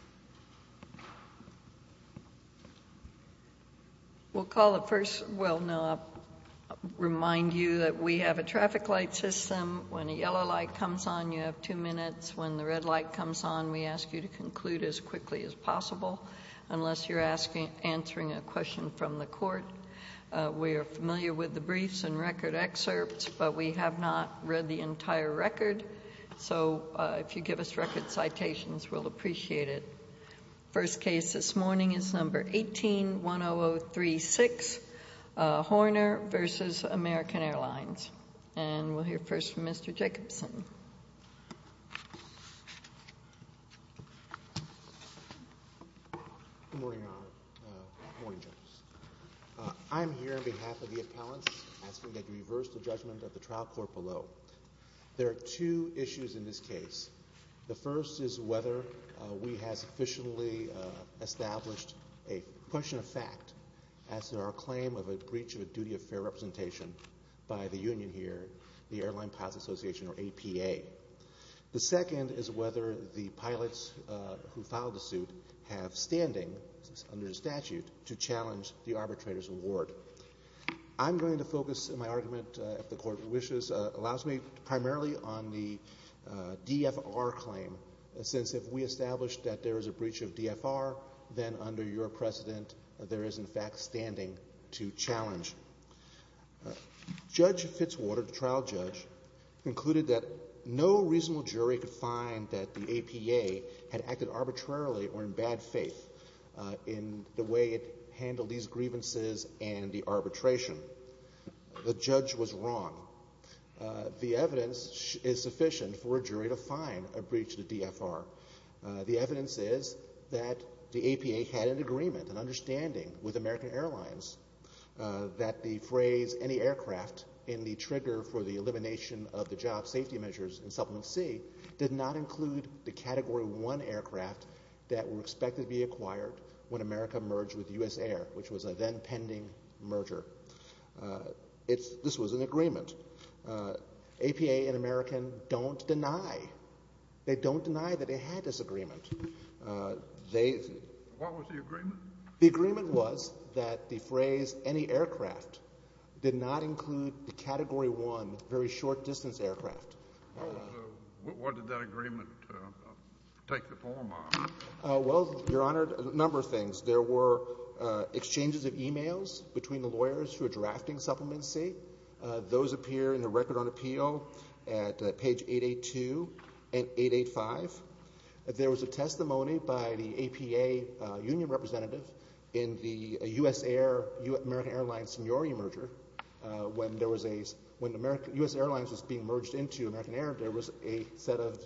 al. We will call the first, well, I will remind you that we have a traffic light system. When a yellow light comes on, you have two minutes. When the red light comes on, we ask you to conclude as quickly as possible unless you are answering a question from the court. We are familiar with the briefs and record excerpts, but we have not read the entire record. So if you give us record citations, we'll appreciate it. First case this morning is number 18-10036, Horner v. American Airlines. And we'll hear first from Mr. Jacobson. Good morning, Your Honor. Good morning, Justice. I'm here on behalf of the appellants asking that you reverse the judgment of the trial court below. There are two issues in this case. The first is whether we have sufficiently established a question of fact as to our claim of a breach of a duty of fair representation by the union here, the Airline Pilots Association, or APA. The second is whether the pilots who filed the suit have standing under the statute to challenge the arbitrator's award. I'm going to focus my argument, if the Court wishes, primarily on the DFR claim, since if we establish that there is a breach of DFR, then under your precedent, there is in fact standing to challenge. Judge Fitzwater, the trial judge, concluded that no reasonable jury could find that the The judge was wrong. The evidence is sufficient for a jury to find a breach of the DFR. The evidence is that the APA had an agreement, an understanding, with American Airlines that the phrase, any aircraft, in the trigger for the elimination of the job safety measures in Supplement C, did not include the Category 1 aircraft that were expected to be acquired when America merged with U.S. Air, which was a then-pending merger. This was an agreement. APA and American don't deny, they don't deny that they had this agreement. What was the agreement? The agreement was that the phrase, any aircraft, did not include the Category 1, very short distance aircraft. What did that agreement take the form of? Well, Your Honor, a number of things. There were exchanges of emails between the lawyers who are drafting Supplement C. Those appear in the Record on Appeal at page 882 and 885. There was a testimony by the APA union representative in the U.S. Air, American Airlines-Seniori merger when there was a, when U.S. Airlines was being merged into American Air, there was a set of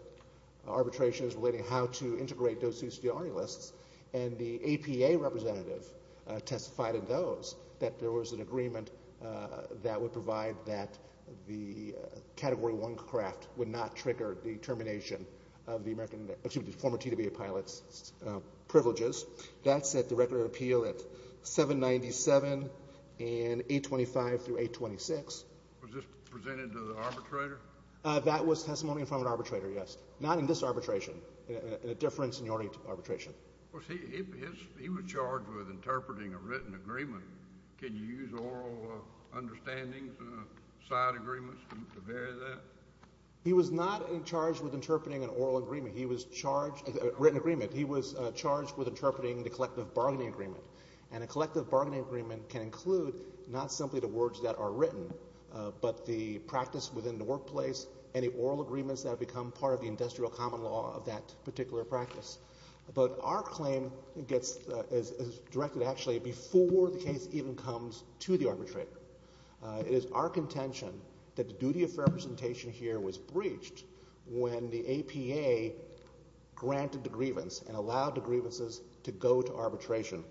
arbitrations relating how to integrate those CCR lists, and the APA representative testified in those that there was an agreement that would provide that the Category 1 craft would not trigger the termination of the American, excuse me, former TWA pilots' privileges. That's at the Record on Appeal at 797 and 825 through 826. Was this presented to the arbitrator? That was testimony from an arbitrator, yes. Not in this arbitration, in a different seniority arbitration. He was charged with interpreting a written agreement. Can you use oral understandings, side agreements to vary that? He was not charged with interpreting an oral agreement. He was charged, written agreement, he was charged with interpreting the collective bargaining agreement, and a collective bargaining agreement can include not simply the words that are in place, any oral agreements that have become part of the industrial common law of that particular practice. But our claim gets, is directed actually before the case even comes to the arbitrator. It is our contention that the duty of fair representation here was breached when the APA granted the grievance and allowed the grievances to go to arbitration.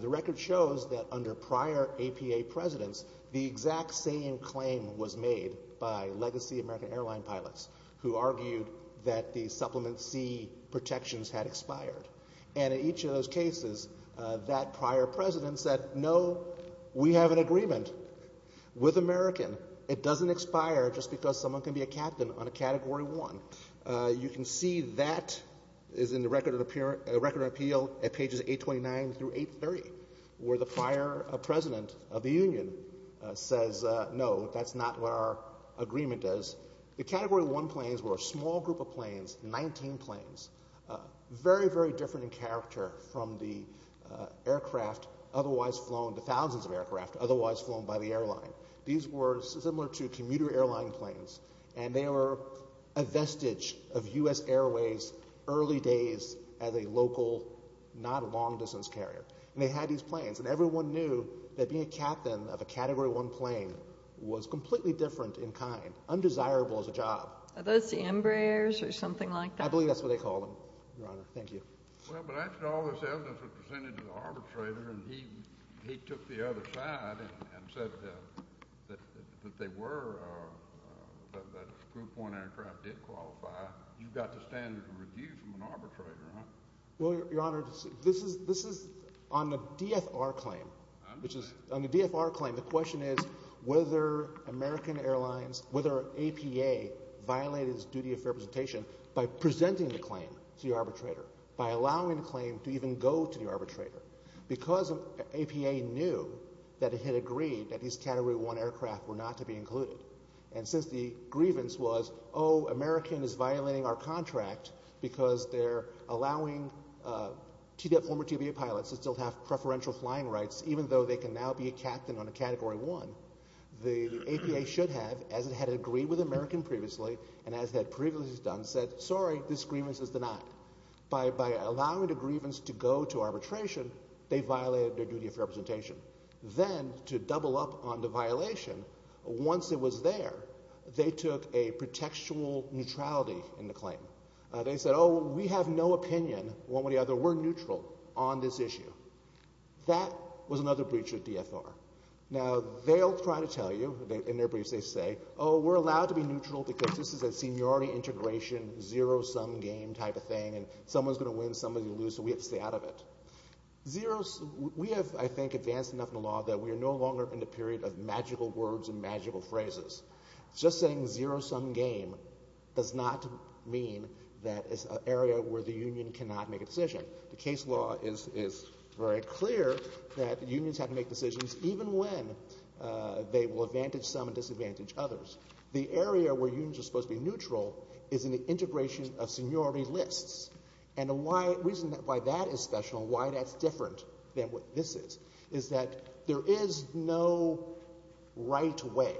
The record shows that under prior APA presidents, the exact same claim was made by Legacy American Airline pilots who argued that the Supplement C protections had expired. And in each of those cases, that prior president said, no, we have an agreement with American. It doesn't expire just because someone can be a captain on a Category 1. You can see that is in the Record of Appeal at pages 829 through 830 where the prior president of the union says, no, that's not what our agreement does. The Category 1 planes were a small group of planes, 19 planes, very, very different in character from the aircraft otherwise flown, the thousands of aircraft otherwise flown by the airline. These were similar to commuter airline planes, and they were a vestige of U.S. Airways early days as a local, not long-distance carrier. And they had these planes, and everyone knew that being a captain of a Category 1 plane was completely different in kind, undesirable as a job. Are those the Embraers or something like that? I believe that's what they call them, Your Honor. Thank you. Well, but after all this evidence was presented to the arbitrator, and he took the other side and said that they were, that Group 1 aircraft did qualify, you've got the standard to refuse from an arbitrator, huh? Well, Your Honor, this is, this is on the DFR claim, which is, on the DFR claim, the question is whether American Airlines, whether APA violated its duty of representation by presenting the claim to the arbitrator, by allowing the claim to even go to the arbitrator. Because APA knew that it had agreed that these Category 1 aircraft were not to be included, and since the grievance was, oh, American is violating our contract because they're allowing former TBA pilots to still have preferential flying rights, even though they can now be a captain on a Category 1, the APA should have, as it had agreed with American previously, and as had previously done, said, sorry, this grievance is denied. By allowing the grievance to go to arbitration, they violated their duty of representation. Then, to double up on the violation, once it was there, they took a protectual neutrality in the claim. They said, oh, we have no opinion, one way or the other, we're neutral on this issue. That was another breach of DFR. Now, they'll try to tell you, in their briefs they say, oh, we're allowed to be neutral because this is a seniority integration, zero-sum game type of thing, and someone's going to win, somebody's going to lose, so we have to stay out of it. Zero-sum, we have, I think, advanced enough in the law that we are no longer in the period of magical words and magical phrases. Just saying zero-sum game does not mean that it's an area where the union cannot make a decision. The case law is very clear that unions have to make decisions even when they will advantage some and disadvantage others. The area where unions are supposed to be neutral is in the integration of seniority lists, and the reason why that is special, why that's different than what this is, is that there is no right way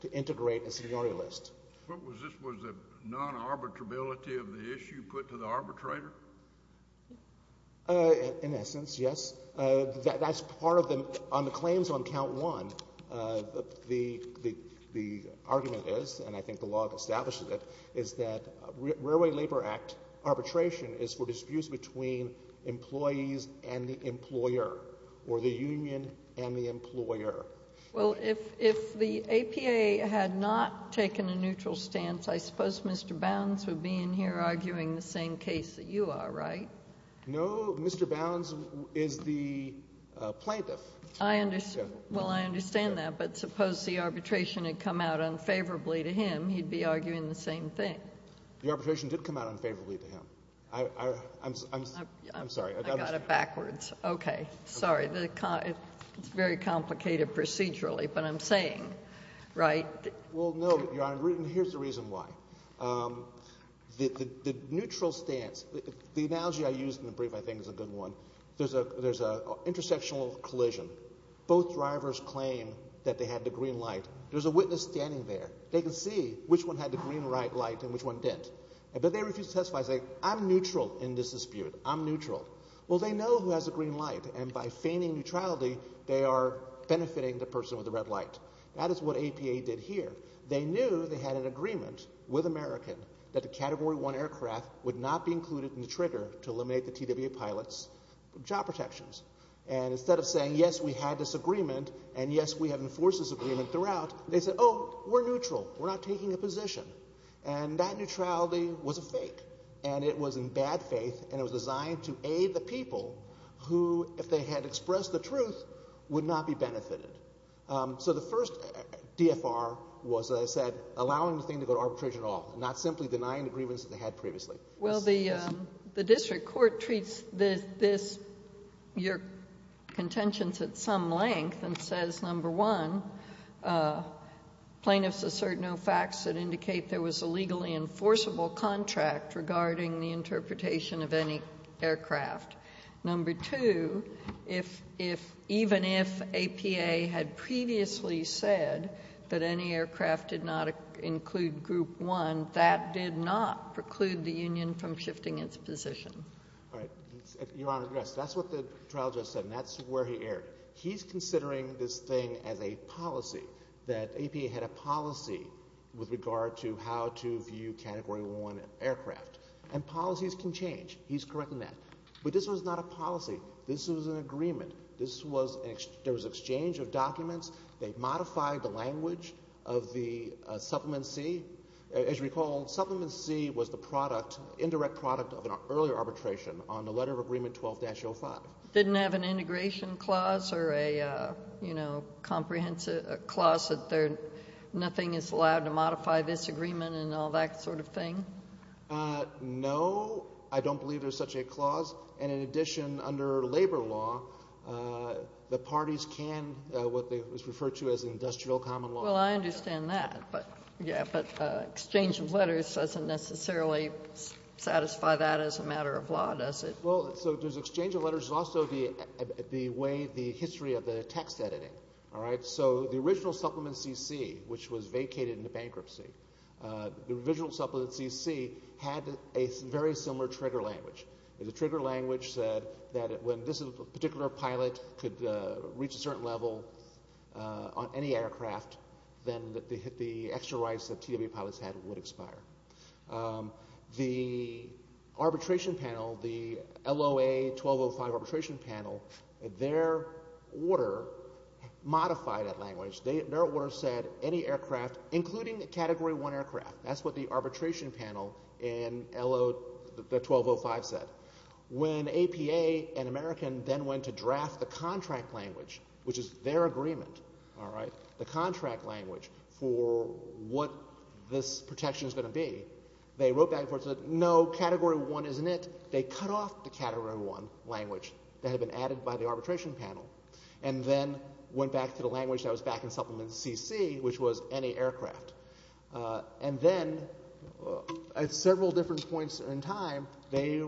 to integrate a seniority list. What was this? Was it non-arbitrability of the issue put to the arbitrator? In essence, yes. That's part of the, on the claims on count one, the argument is, and I think the law establishes it, is that Railway Labor Act arbitration is for disputes between employees and the employer, or the union and the employer. Well, if the APA had not taken a neutral stance, I suppose Mr. Bounds would be in here arguing the same case that you are, right? No, Mr. Bounds is the plaintiff. I understand that, but suppose the arbitration had come out unfavorably to him, he'd be arguing the same thing. The arbitration did come out unfavorably to him. I'm sorry. I got it backwards. Okay. Sorry. It's very complicated procedurally, but I'm saying, right? Well, no, Your Honor, and here's the reason why. The neutral stance, the analogy I used in the brief, I think, is a good one. There's an intersectional collision. Both drivers claim that they had the green light. There's a witness standing there. They can see which one had the green light and which one didn't, but they refuse to testify and say, I'm neutral in this dispute. I'm neutral. Well, they know who has the green light, and by feigning neutrality, they are benefiting the person with the red light. That is what APA did here. They knew they had an agreement with American that the Category 1 aircraft would not be included in the trigger to eliminate the TWA pilots from job protections. And instead of saying, yes, we had this agreement, and yes, we have enforced this agreement throughout, they said, oh, we're neutral. We're not taking a position. And that neutrality was a fake, and it was in bad faith, and it was designed to aid the people who, if they had expressed the truth, would not be benefited. So the first DFR was, as I said, allowing the thing to go to arbitration at all, not simply denying the grievance that they had previously. Well, the district court treats your contentions at some length and says, number one, plaintiffs assert no facts that indicate there was a legally enforceable contract regarding the interpretation of any aircraft. Number two, even if APA had previously said that any aircraft did not include Group 1, that did not preclude the union from shifting its position. All right. Your Honor, yes. That's what the trial judge said, and that's where he erred. He's considering this thing as a policy, that APA had a policy with regard to how to view Category 1 aircraft. And policies can change. He's correct in that. But this was not a policy. This was an agreement. This was an exchange. There was an exchange of documents. They modified the language of the Supplement C. As you recall, Supplement C was the product, indirect product of an earlier arbitration on the letter of agreement 12-05. Didn't have an integration clause or a, you know, comprehensive clause that nothing is allowed to modify this agreement and all that sort of thing? No. I don't believe there's such a clause. And in addition, under labor law, the parties can, what was referred to as industrial common law. Well, I understand that. But, yeah, but exchange of letters doesn't necessarily satisfy that as a matter of law, does it? Well, so there's exchange of letters. There's also the way, the history of the text editing. All right. So the original Supplement C.C., which was vacated into bankruptcy, the original Supplement C.C. had a very similar trigger language. And the trigger language said that when this particular pilot could reach a certain level on any aircraft, then the extra rights that TWA pilots had would expire. The arbitration panel, the LOA 12-05 arbitration panel, their order modified that language. Their order said any aircraft, including a Category 1 aircraft. That's what the arbitration panel in the 12-05 said. When APA and American then went to draft the contract language, which is their agreement, all right, the contract language for what this protection is going to be, they wrote back and forth and said, no, Category 1 isn't it. They cut off the Category 1 language that had been added by the arbitration panel and then went back to the language that was back in Supplement C.C., which was any aircraft. And then at several different points in time, they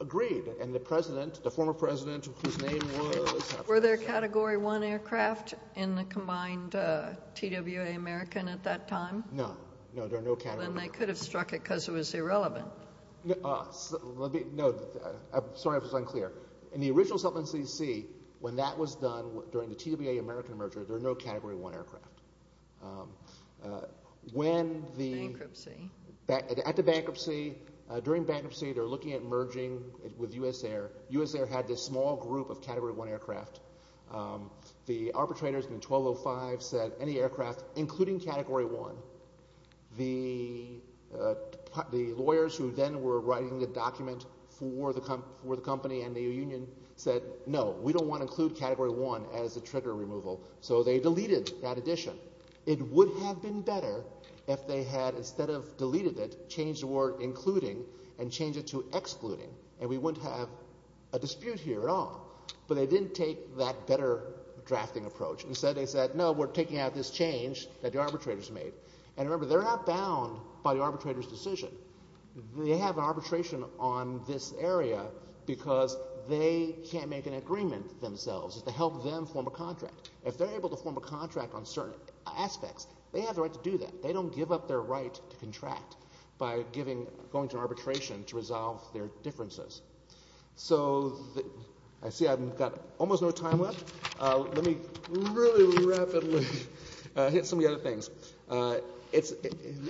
agreed. And the president, the former president, whose name was... Were there Category 1 aircraft in the combined TWA American at that time? No. No, there were no Category 1 aircraft. Then they could have struck it because it was irrelevant. No. Sorry if it's unclear. In the original Supplement C.C., when that was done during the TWA American merger, there were no Category 1 aircraft. When the... Bankruptcy. At the bankruptcy, during bankruptcy, they're looking at merging with US Air. US Air had this small group of Category 1 aircraft. The arbitrators in the 12-05 said any aircraft, including Category 1. The lawyers who then were writing the document for the company and the union said, no, we don't want to include Category 1 as a trigger removal. So they deleted that addition. It would have been better if they had, instead of deleted it, changed the word including and changed it to excluding. And we wouldn't have a dispute here at all. But they didn't take that better drafting approach. Instead they said, no, we're taking out this change that the arbitrators made. And remember, they're not bound by the arbitrator's decision. They have arbitration on this area because they can't make an agreement themselves. It's to help them form a contract. If they're able to form a contract on certain aspects, they have the right to do that. They don't give up their right to contract by going to arbitration to resolve their differences. So I see I've got almost no time left. Let me really rapidly hit some of the other things.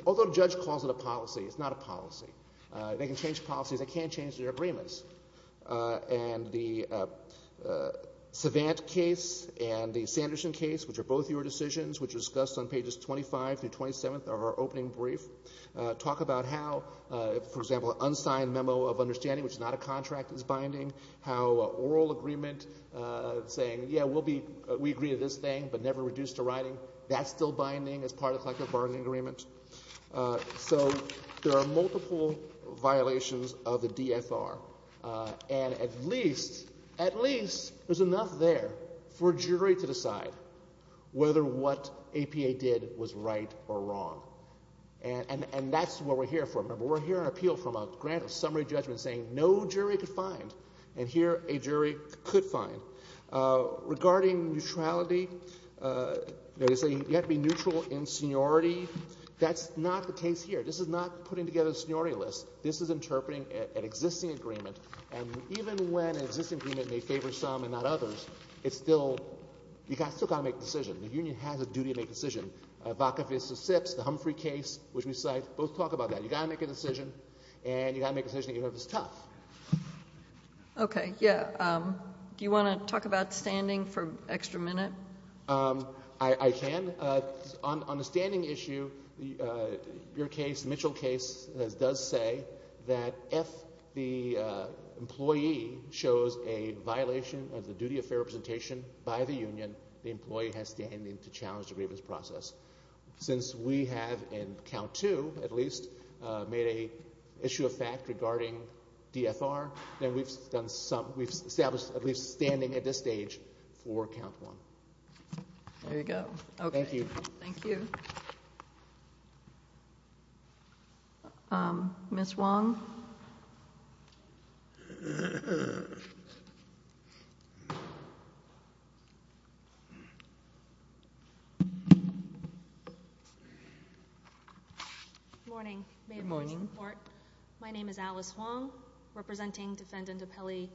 Although the judge calls it a policy, it's not a policy. They can change policies. They can't change the agreements. And the Savant case and the Sanderson case, which are both your decisions, which are discussed on pages 25 through 27 of our opening brief, talk about how, for example, an unsigned memo of understanding, which is not a contract, is binding. How an oral agreement saying, yeah, we agree to this thing but never reduced to writing, that's still binding as part of a collective bargaining agreement. So there are multiple violations of the DFR. And at least, at least there's enough there for a jury to decide whether what APA did was right or wrong. And that's what we're here for. Remember, we're here on appeal from a grant of summary judgment saying no jury could find. And here a jury could find. Regarding neutrality, they say you have to be neutral in seniority. That's not the case here. This is not putting together a seniority list. This is interpreting an existing agreement. And even when an existing agreement may favor some and not others, it's still – you've still got to make a decision. The union has a duty to make a decision. Vaca v. Sips, the Humphrey case, which we cite, both talk about that. You've got to make a decision, and you've got to make a decision even if it's tough. Okay, yeah. Do you want to talk about standing for an extra minute? I can. On the standing issue, your case, Mitchell case, does say that if the employee shows a violation of the duty of fair representation by the union, the employee has standing to challenge the grievance process. Since we have, in count two at least, made an issue of fact regarding DFR, then we've established at least standing at this stage for count one. There you go. Okay. Thank you. Thank you. Ms. Wong? Good morning. Good morning. My name is Alice Wong, representing Defendant Appellee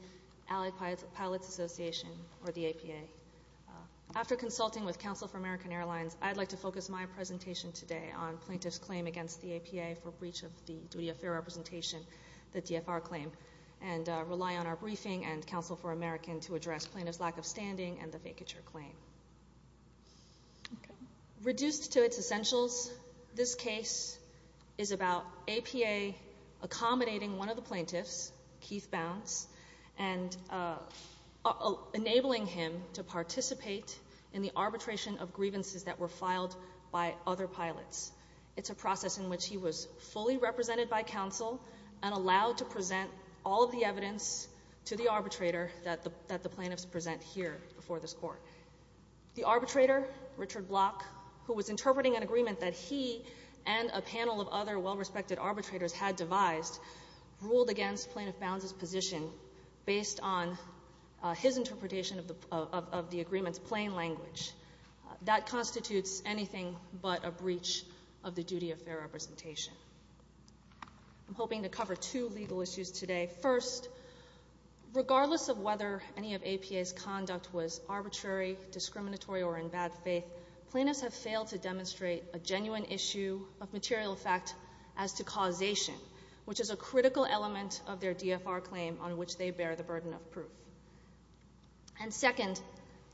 Allied Pilots Association, or the APA. After consulting with Counsel for American Airlines, I'd like to focus my presentation today on plaintiff's claim against the APA for breach of the duty of fair representation, the DFR claim, and rely on our briefing and Counsel for American to address plaintiff's lack of standing and the vacature claim. Okay. Reduced to its essentials, this case is about APA accommodating one of the plaintiffs, Keith Bounds, and enabling him to participate in the arbitration of grievances that were filed by other pilots. It's a process in which he was fully represented by Counsel and allowed to present all of the evidence to the arbitrator that the plaintiffs present here before this court. The arbitrator, Richard Block, who was interpreting an agreement that he and a panel of other well-respected arbitrators had devised, ruled against plaintiff Bounds' position based on his interpretation of the agreement's plain language. That constitutes anything but a breach of the duty of fair representation. I'm hoping to cover two legal issues today. First, regardless of whether any of APA's conduct was arbitrary, discriminatory, or in bad faith, plaintiffs have failed to demonstrate a genuine issue of material fact as to causation, which is a critical element of their DFR claim on which they bear the burden of proof. And second,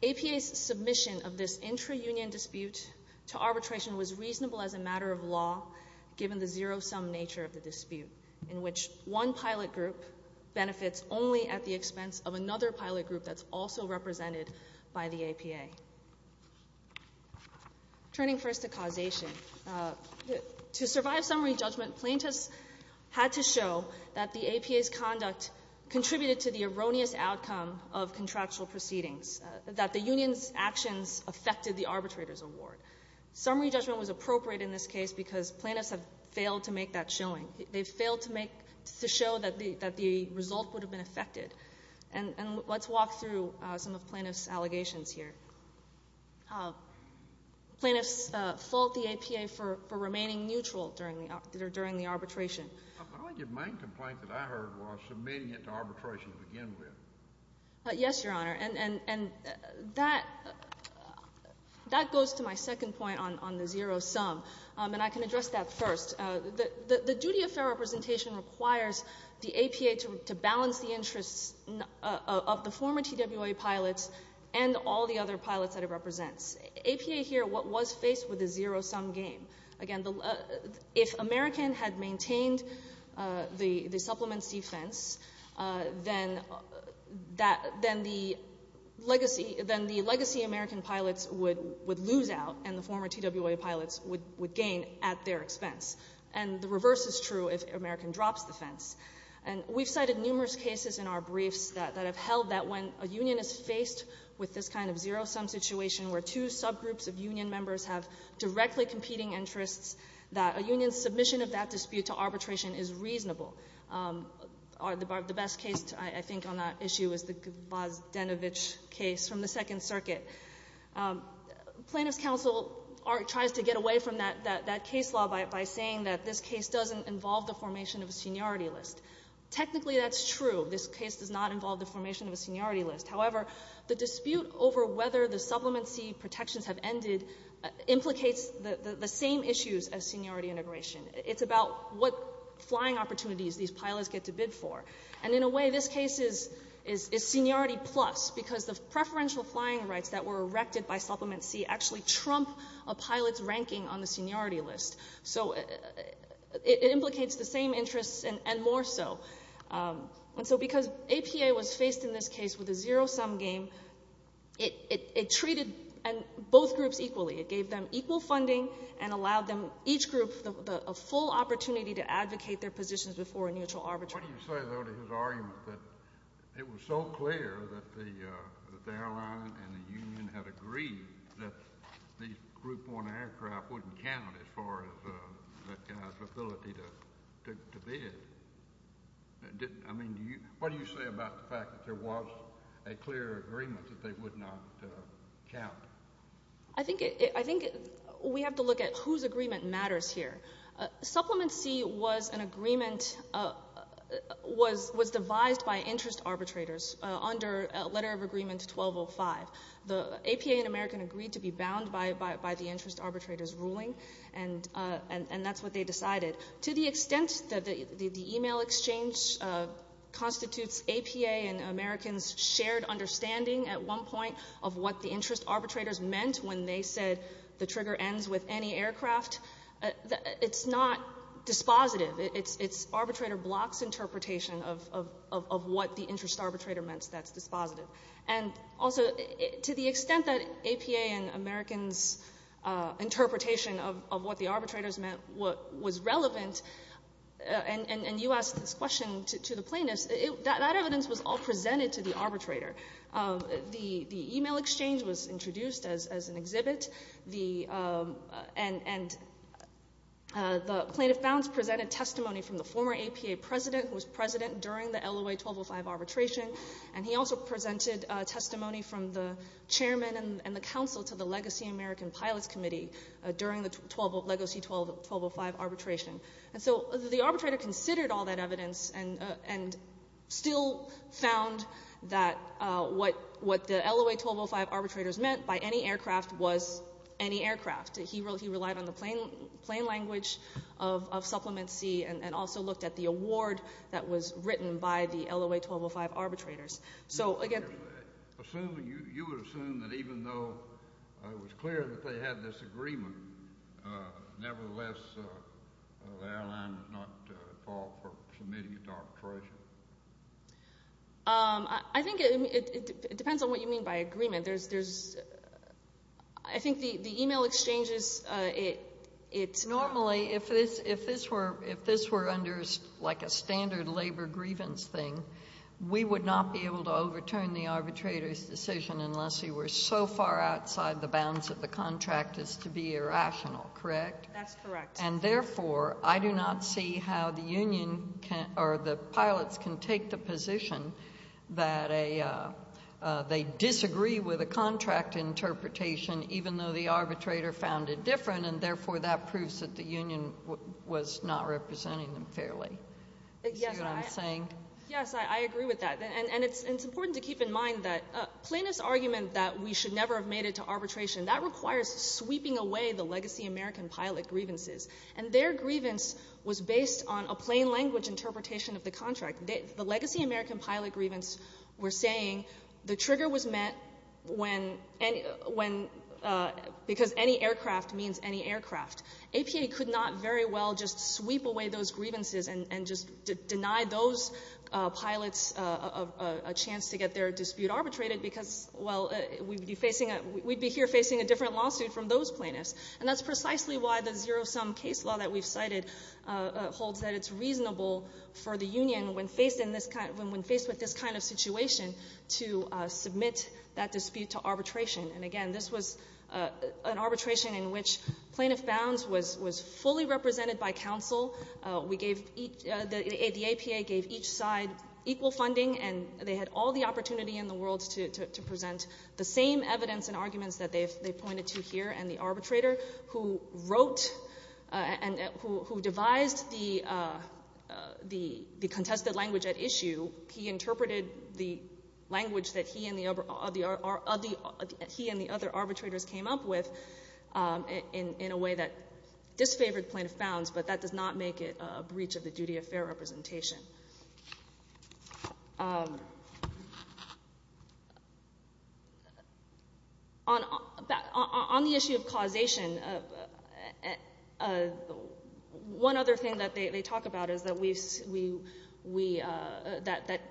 APA's submission of this intra-union dispute to arbitration was reasonable as a matter of law, given the zero-sum nature of the dispute in which one pilot group benefits only at the expense of another pilot group that's also represented by the APA. Turning first to causation, to survive summary judgment, plaintiffs had to show that the APA's conduct contributed to the erroneous outcome of contractual proceedings, that the union's actions affected the arbitrator's award. Summary judgment was appropriate in this case because plaintiffs have failed to make that showing. They've failed to make to show that the result would have been affected. And let's walk through some of plaintiff's allegations here. Plaintiffs fault the APA for remaining neutral during the arbitration. I believe your main complaint that I heard was submitting it to arbitration to begin with. Yes, Your Honor. And that goes to my second point on the zero-sum. And I can address that first. The duty of fair representation requires the APA to balance the interests of the former TWA pilots and all the other pilots that it represents. APA here was faced with a zero-sum game. Again, if American had maintained the Supplement C fence, then the legacy American pilots would lose out and the former TWA pilots would gain at their expense. And the reverse is true if American drops the fence. And we've cited numerous cases in our briefs that have held that when a union is faced with this kind of zero-sum situation where two subgroups of union members have directly competing interests, that a union's submission of that dispute to arbitration is reasonable. The best case, I think, on that issue is the Gvazdanovich case from the Second Circuit. Plaintiff's counsel tries to get away from that case law by saying that this case doesn't involve the formation of a seniority list. Technically, that's true. This case does not involve the formation of a seniority list. However, the dispute over whether the Supplement C protections have ended implicates the same issues as seniority integration. It's about what flying opportunities these pilots get to bid for. And in a way, this case is seniority plus because the preferential flying rights that were erected by Supplement C actually trump a pilot's ranking on the seniority list. So it implicates the same interests and more so. And so because APA was faced in this case with a zero-sum game, it treated both groups equally. It gave them equal funding and allowed them, each group, a full opportunity to advocate their positions before a neutral arbitration. What do you say, though, to his argument that it was so clear that the airline and the union had agreed that the Group 1 aircraft wouldn't count as far as that guy's ability to bid? I mean, what do you say about the fact that there was a clear agreement that they would not count? I think we have to look at whose agreement matters here. Supplement C was an agreement that was devised by interest arbitrators under Letter of Agreement 1205. The APA and American agreed to be bound by the interest arbitrator's ruling, and that's what they decided. To the extent that the email exchange constitutes APA and American's shared understanding at one point of what the interest arbitrators meant when they said the trigger ends with any aircraft, it's not dispositive. It's arbitrator block's interpretation of what the interest arbitrator meant that's dispositive. And also, to the extent that APA and American's interpretation of what the arbitrators meant was relevant, and you asked this question to the plaintiffs, that evidence was all presented to the arbitrator. The email exchange was introduced as an exhibit, and the plaintiff bounds presented testimony from the former APA president who was president during the LOA 1205 arbitration, and he also presented testimony from the chairman and the counsel to the Legacy American Pilots Committee during the Legacy 1205 arbitration. And so the arbitrator considered all that evidence and still found that what the LOA 1205 arbitrators meant by any aircraft was any aircraft. He relied on the plain language of Supplement C and also looked at the award that was written by the LOA 1205 arbitrators. So again— Assuming—you would assume that even though it was clear that they had this agreement, nevertheless, the airline was not at fault for submitting its arbitration. I think it depends on what you mean by agreement. There's—I think the email exchanges, it's— Normally, if this were under like a standard labor grievance thing, we would not be able to overturn the arbitrator's decision unless he were so far outside the bounds of the contract as to be irrational, correct? That's correct. And therefore, I do not see how the union can—or the pilots can take the position that they disagree with a contract interpretation even though the arbitrator found it different, and therefore, that proves that the union was not representing them fairly. See what I'm saying? Yes, I agree with that. And it's important to keep in mind that plaintiff's argument that we should never have made it to arbitration, that requires sweeping away the legacy American pilot grievances. And their grievance was based on a plain language interpretation of the contract. The legacy American pilot grievance were saying the trigger was met when any—when—because any aircraft means any aircraft. APA could not very well just sweep away those grievances and just deny those pilots a chance to get their dispute arbitrated because, well, we'd be facing a—we'd be here facing a different lawsuit from those plaintiffs. And that's precisely why the zero-sum case law that we've cited holds that it's reasonable for the union, when faced in this kind—when faced with this kind of situation, to submit that dispute to arbitration. And again, this was an arbitration in which plaintiff bounds was fully represented by counsel. We gave each—the APA gave each side equal funding, and they had all the opportunity in the world to present the same evidence and arguments that they pointed to here. And the arbitrator who wrote and who devised the contested language at issue, he interpreted the language that he and the other arbitrators came up with in a way that disfavored plaintiff bounds, but that does not make it a breach of the duty of fair representation. On the issue of causation, one other thing that they talk about is that we—that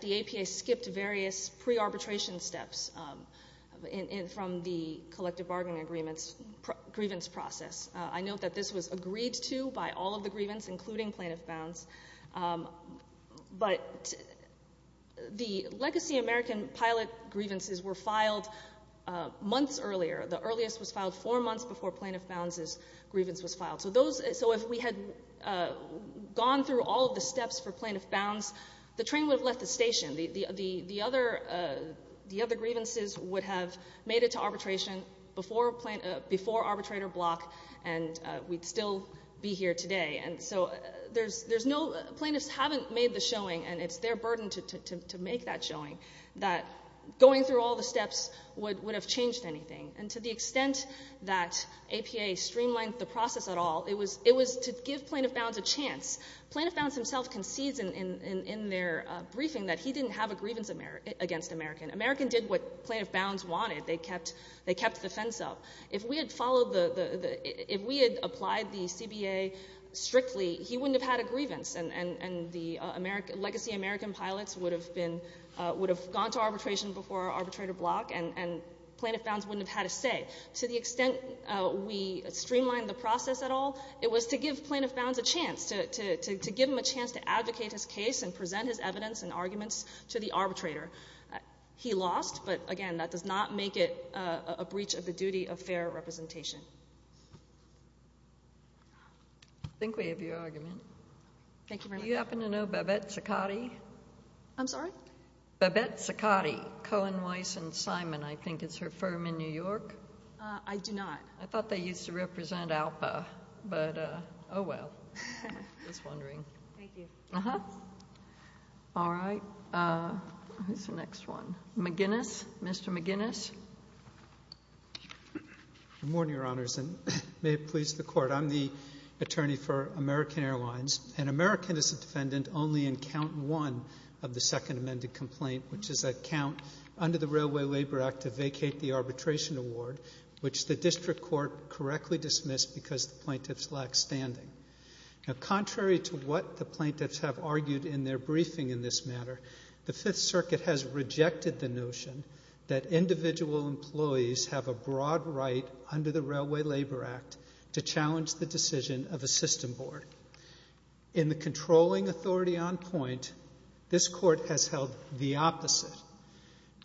the APA skipped various pre-arbitration steps from the collective bargaining agreements—grievance process. I note that this was agreed to by all of the grievance, including plaintiff bounds. But the legacy American pilot grievances were filed months earlier. The earliest was filed four months before plaintiff bounds' grievance was filed. So those—so if we had gone through all of the steps for plaintiff bounds, the train would have left the station. The other grievances would have made it to arbitration before arbitrator block, and we'd still be here today. And so there's no—plaintiffs haven't made the showing, and it's their burden to make that showing, that going through all the steps would have changed anything. And to the extent that APA streamlined the process at all, it was to give plaintiff bounds a chance. Plaintiff bounds himself concedes in their briefing that he didn't have a grievance against American. American did what plaintiff bounds wanted. They kept the fence up. If we had followed the—if we had applied the CBA strictly, he wouldn't have had a grievance, and the legacy American pilots would have been—would have gone to arbitration before arbitrator block, and plaintiff bounds wouldn't have had a say. To the extent we streamlined the process at all, it was to give plaintiff bounds a chance, to give him a chance to advocate his case and present his evidence and arguments to the arbitrator. He lost, but, again, that does not make it a breach of the duty of fair representation. I think we have your argument. Thank you very much. Do you happen to know Babette Ciccotti? I'm sorry? Babette Ciccotti, Cohen, Weiss, and Simon. I think it's her firm in New York. I do not. I thought they used to represent ALPA, but, oh, well. I was wondering. Thank you. Uh-huh. All right. Who's the next one? McGinnis? Mr. McGinnis? Good morning, Your Honors, and may it please the Court. I'm the attorney for American Airlines, and American is a defendant only in count one of the second amended complaint, which is a count under the Railway Labor Act to vacate the arbitration award, which the district court correctly dismissed because the plaintiffs lacked standing. Now, contrary to what the plaintiffs have argued in their briefing in this matter, the Fifth Circuit has rejected the notion that individual employees have a broad right under the Railway Labor Act to challenge the decision of a system board. In the controlling authority on point, this Court has held the opposite,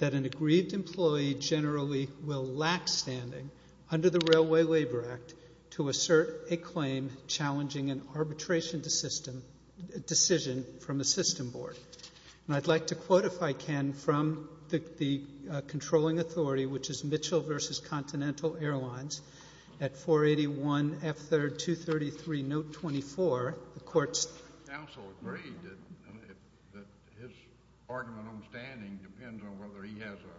that an aggrieved employee generally will lack standing under the Railway Labor Act to assert a claim challenging an arbitration decision from a system board. And I'd like to quote, if I can, from the controlling authority, which is Mitchell v. Continental Airlines at 481F3233, note 24. The Court's counsel agreed that his argument on standing depends on whether he has a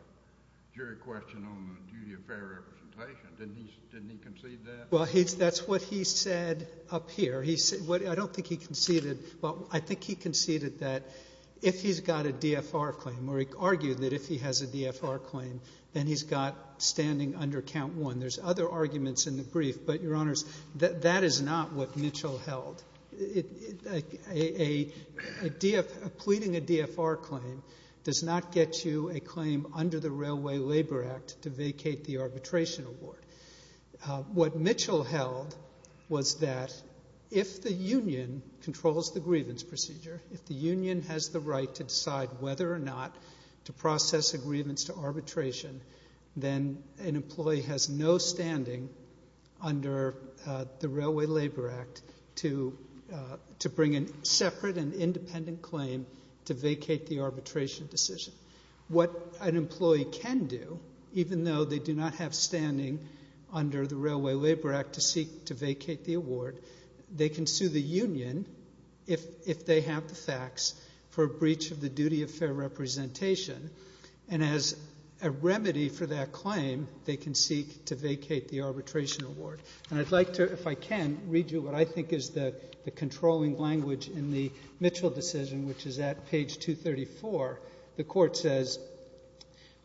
jury question on the duty of fair representation. Didn't he concede that? Well, that's what he said up here. I don't think he conceded, but I think he conceded that if he's got a DFR claim or he argued that if he has a DFR claim, then he's got standing under count one. There's other arguments in the brief, but, Your Honors, that is not what Mitchell held. Pleading a DFR claim does not get you a claim under the Railway Labor Act to vacate the arbitration award. What Mitchell held was that if the union controls the grievance procedure, if the union has the right to decide whether or not to process a grievance to arbitration, then an employee has no standing under the Railway Labor Act to bring a separate and independent claim to vacate the arbitration decision. What an employee can do, even though they do not have standing under the Railway Labor Act to vacate the award, they can sue the union if they have the facts for a breach of the duty of fair representation. And as a remedy for that claim, they can seek to vacate the arbitration award. And I'd like to, if I can, read you what I think is the controlling language in the Mitchell decision, which is at page 234. The court says,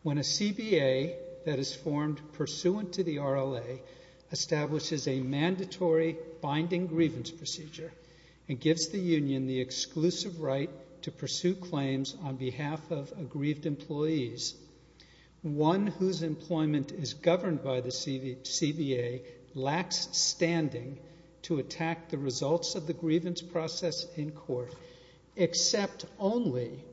When a CBA that is formed pursuant to the RLA establishes a mandatory binding grievance procedure and gives the union the exclusive right to pursue claims on behalf of aggrieved employees, one whose employment is governed by the CBA lacks standing to attack the results of the grievance process in court, except only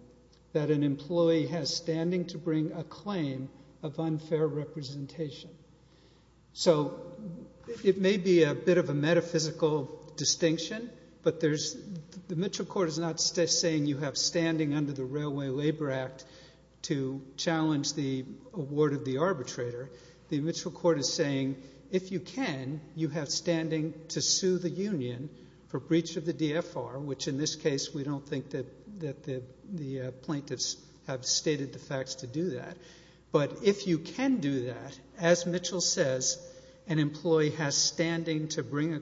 that an employee has standing to bring a claim of unfair representation. So it may be a bit of a metaphysical distinction, but the Mitchell court is not saying you have standing under the Railway Labor Act to challenge the award of the arbitrator. The Mitchell court is saying, if you can, you have standing to sue the union for breach of the DFR, which in this case we don't think that the plaintiffs have stated the facts to do that. But if you can do that, as Mitchell says, an employee has standing to bring a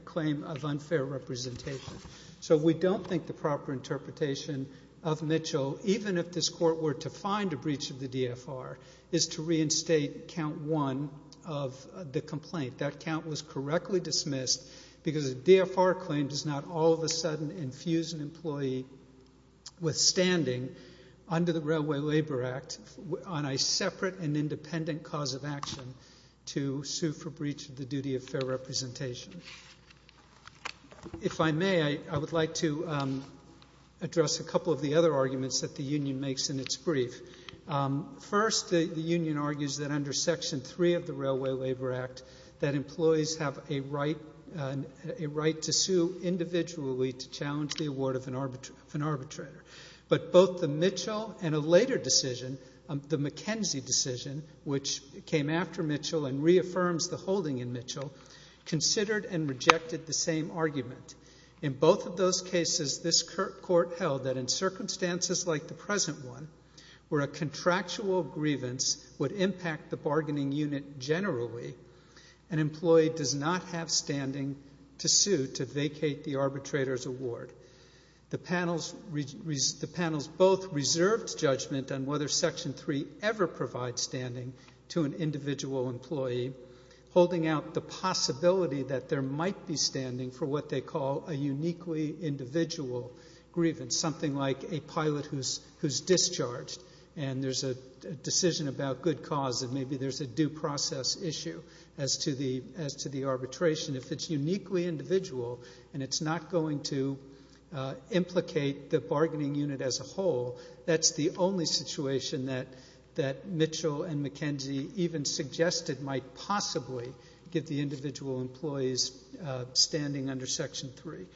claim of unfair representation. So we don't think the proper interpretation of Mitchell, even if this court were to find a breach of the DFR, is to reinstate count one of the complaint. That count was correctly dismissed because a DFR claim does not all of a sudden infuse an employee with standing under the Railway Labor Act on a separate and independent cause of action to sue for breach of the duty of fair representation. If I may, I would like to address a couple of the other arguments that the union makes in its brief. First, the union argues that under Section 3 of the Railway Labor Act that employees have a right to sue individually to challenge the award of an arbitrator. But both the Mitchell and a later decision, the McKenzie decision, which came after Mitchell and reaffirms the holding in Mitchell, considered and rejected the same argument. In both of those cases, this court held that in circumstances like the present one, where a contractual grievance would impact the bargaining unit generally, an employee does not have standing to sue to vacate the arbitrator's award. The panels both reserved judgment on whether Section 3 ever provides standing to an individual employee, holding out the possibility that there might be standing for what they call a uniquely individual grievance, something like a pilot who's discharged and there's a decision about good cause and maybe there's a due process issue as to the arbitration. If it's uniquely individual and it's not going to implicate the bargaining unit as a whole, that's the only situation that Mitchell and McKenzie even suggested might possibly give the individual employees standing under Section 3.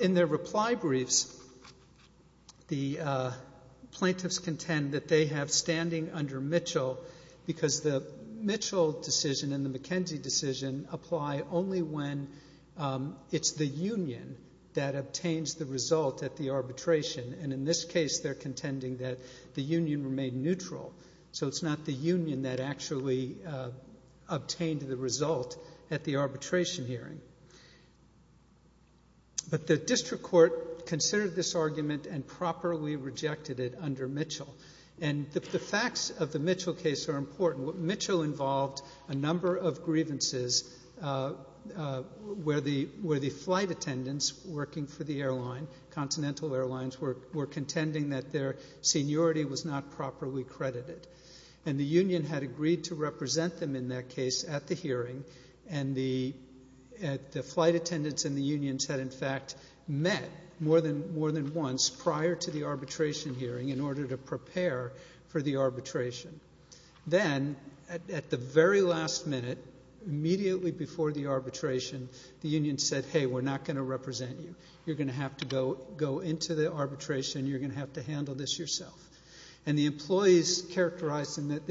In their reply briefs, the plaintiffs contend that they have standing under Mitchell because the Mitchell decision and the McKenzie decision apply only when it's the union that obtains the result at the arbitration. And in this case, they're contending that the union remained neutral, so it's not the union that actually obtained the result at the arbitration hearing. But the district court considered this argument and properly rejected it under Mitchell. And the facts of the Mitchell case are important. Mitchell involved a number of grievances where the flight attendants working for the airline, Continental Airlines, were contending that their seniority was not properly credited. And the union had agreed to represent them in that case at the hearing, and the flight attendants and the unions had, in fact, met more than once prior to the arbitration hearing in order to prepare for the arbitration. Then, at the very last minute, immediately before the arbitration, the union said, Hey, we're not going to represent you. You're going to have to go into the arbitration. You're going to have to handle this yourself. And the employees in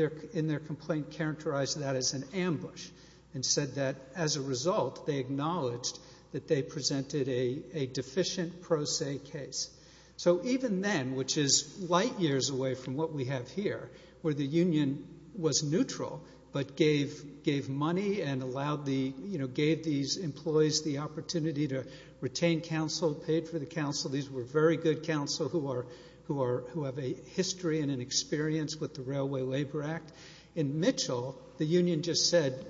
their complaint characterized that as an ambush and said that as a result they acknowledged that they presented a deficient pro se case. So even then, which is light years away from what we have here, where the union was neutral but gave money and gave these employees the opportunity to retain counsel, paid for the counsel. These were very good counsel who have a history and an experience with the Railway Labor Act. In Mitchell, the union just said,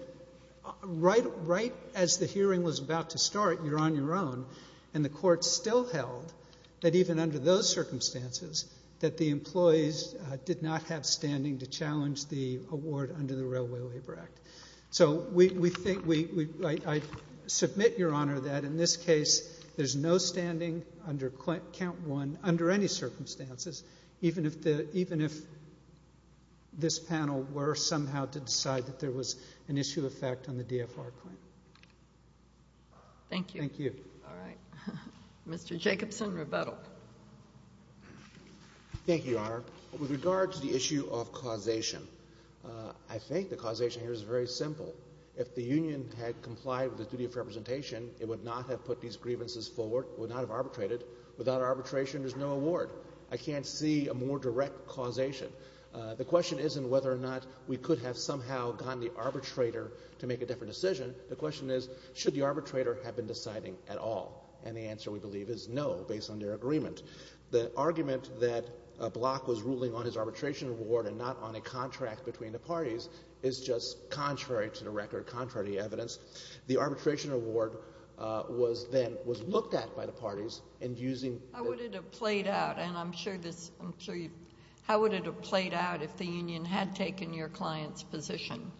Right as the hearing was about to start, you're on your own. And the court still held that even under those circumstances, that the employees did not have standing to challenge the award under the Railway Labor Act. So I submit, Your Honor, that in this case there's no standing under count one under any circumstances, even if this panel were somehow to decide that there was an issue of fact on the DFR claim. Thank you. All right. Mr. Jacobson, rebuttal. Thank you, Your Honor. With regard to the issue of causation, I think the causation here is very simple. If the union had complied with the duty of representation, it would not have put these grievances forward, would not have arbitrated. Without arbitration, there's no award. I can't see a more direct causation. The question isn't whether or not we could have somehow gotten the arbitrator to make a different decision. The question is, should the arbitrator have been deciding at all? And the answer, we believe, is no, based on their agreement. The argument that Block was ruling on his arbitration award and not on a contract between the parties is just contrary to the record, contrary to the evidence. The arbitration award then was looked at by the parties and using the- How would it have played out? And I'm sure you- how would it have played out if the union had taken your client's position?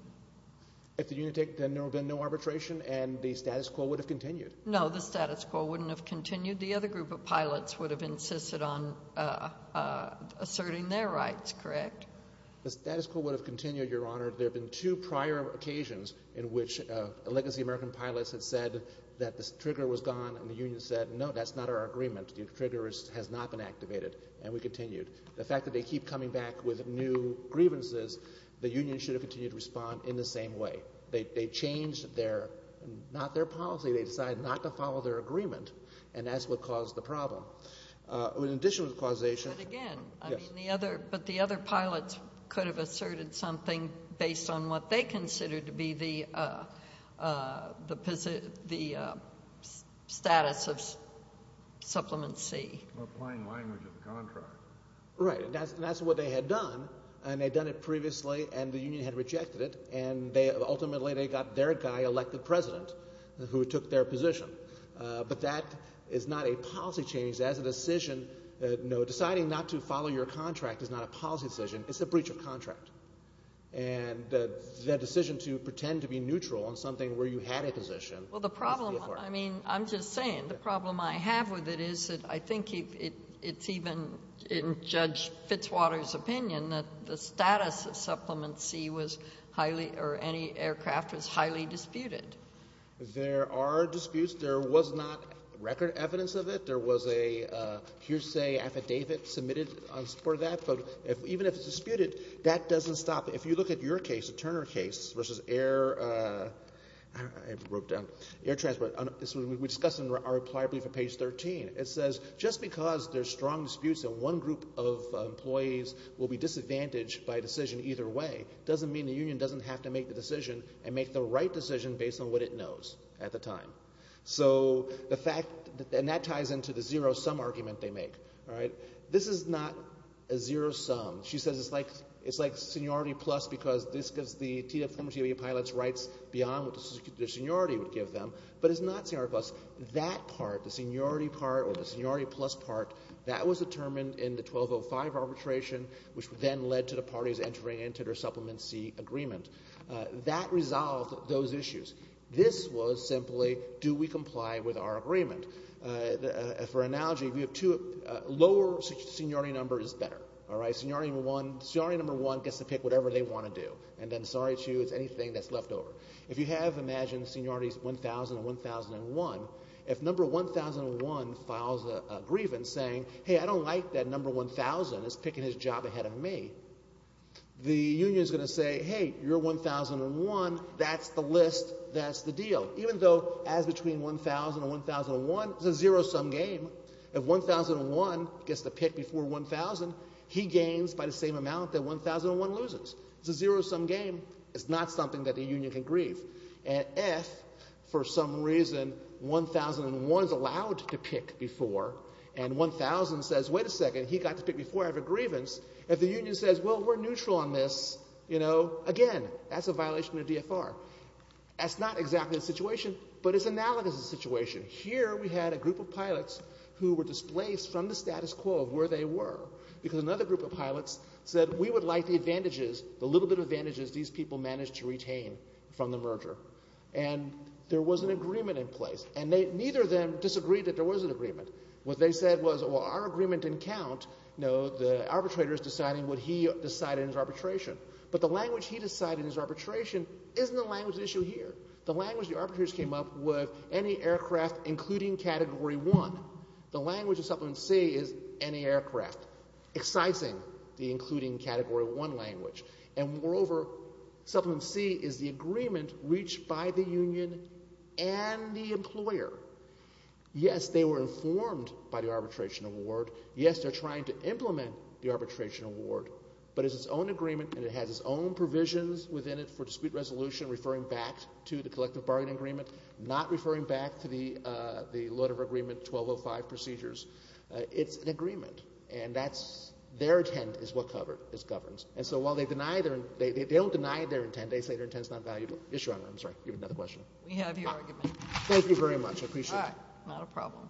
If the union had taken- then there would have been no arbitration and the status quo would have continued. No, the status quo wouldn't have continued. The other group of pilots would have insisted on asserting their rights, correct? The status quo would have continued, Your Honor. There have been two prior occasions in which a legacy American pilot has said that the trigger was gone and the union said, no, that's not our agreement. The trigger has not been activated, and we continued. The fact that they keep coming back with new grievances, the union should have continued to respond in the same way. They changed their- not their policy. They decided not to follow their agreement, and that's what caused the problem. In addition to the causation- But again- Yes. I mean, the other- but the other pilots could have asserted something based on what they considered to be the status of Supplement C. Applying language of the contract. Right, and that's what they had done, and they'd done it previously, and the union had rejected it, and ultimately they got their guy elected president who took their position. But that is not a policy change. That is a decision. Deciding not to follow your contract is not a policy decision. It's a breach of contract, and that decision to pretend to be neutral on something where you had a position- Well, the problem- I mean, I'm just saying. The problem I have with it is that I think it's even in Judge Fitzwater's opinion that the status of Supplement C was highly- or any aircraft was highly disputed. There are disputes. There was not record evidence of it. There was a hearsay affidavit submitted on support of that, but even if it's disputed, that doesn't stop it. If you look at your case, the Turner case, versus air- I wrote it down. Air transport. We discussed it in our reply brief on page 13. It says just because there's strong disputes and one group of employees will be disadvantaged by a decision either way doesn't mean the union doesn't have to make the decision and make the right decision based on what it knows at the time. So the fact- and that ties into the zero-sum argument they make. This is not a zero-sum. She says it's like seniority plus because this gives the former TWA pilots rights beyond what the seniority would give them, but it's not seniority plus. That part, the seniority part or the seniority plus part, that was determined in the 1205 arbitration, which then led to the parties entering into their Supplement C agreement. That resolved those issues. This was simply do we comply with our agreement. For analogy, we have two- lower seniority number is better. Seniority number one gets to pick whatever they want to do, and then sorry to you, it's anything that's left over. If you have, imagine seniority's 1,000 and 1,001. If number 1,001 files a grievance saying, hey, I don't like that number 1,000 is picking his job ahead of me, the union is going to say, hey, you're 1,001. That's the list. That's the deal. Even though as between 1,000 and 1,001, it's a zero-sum game. If 1,001 gets to pick before 1,000, he gains by the same amount that 1,001 loses. It's a zero-sum game. It's not something that the union can grieve. And if for some reason 1,001 is allowed to pick before and 1,000 says, wait a second, he got to pick before I have a grievance, if the union says, well, we're neutral on this, you know, again, that's a violation of the DFR. That's not exactly the situation, but it's analogous to the situation. Here we had a group of pilots who were displaced from the status quo of where they were because another group of pilots said we would like the advantages, the little bit of advantages these people managed to retain from the merger. And there was an agreement in place, and neither of them disagreed that there was an agreement. What they said was, well, our agreement didn't count. The arbitrator is deciding what he decided in his arbitration. But the language he decided in his arbitration isn't the language at issue here. The language the arbitrators came up with, any aircraft including Category 1. The language of Supplement C is any aircraft, excising the including Category 1 language. And moreover, Supplement C is the agreement reached by the union and the employer. Yes, they were informed by the arbitration award. Yes, they're trying to implement the arbitration award, but it's its own agreement and it has its own provisions within it for dispute resolution referring back to the collective bargaining agreement, not referring back to the lot of agreement 1205 procedures. It's an agreement, and that's their intent is what governs. And so while they don't deny their intent, they say their intent is not valuable. Yes, Your Honor, I'm sorry. You have another question. We have your argument. Thank you very much. I appreciate it. All right. Not a problem.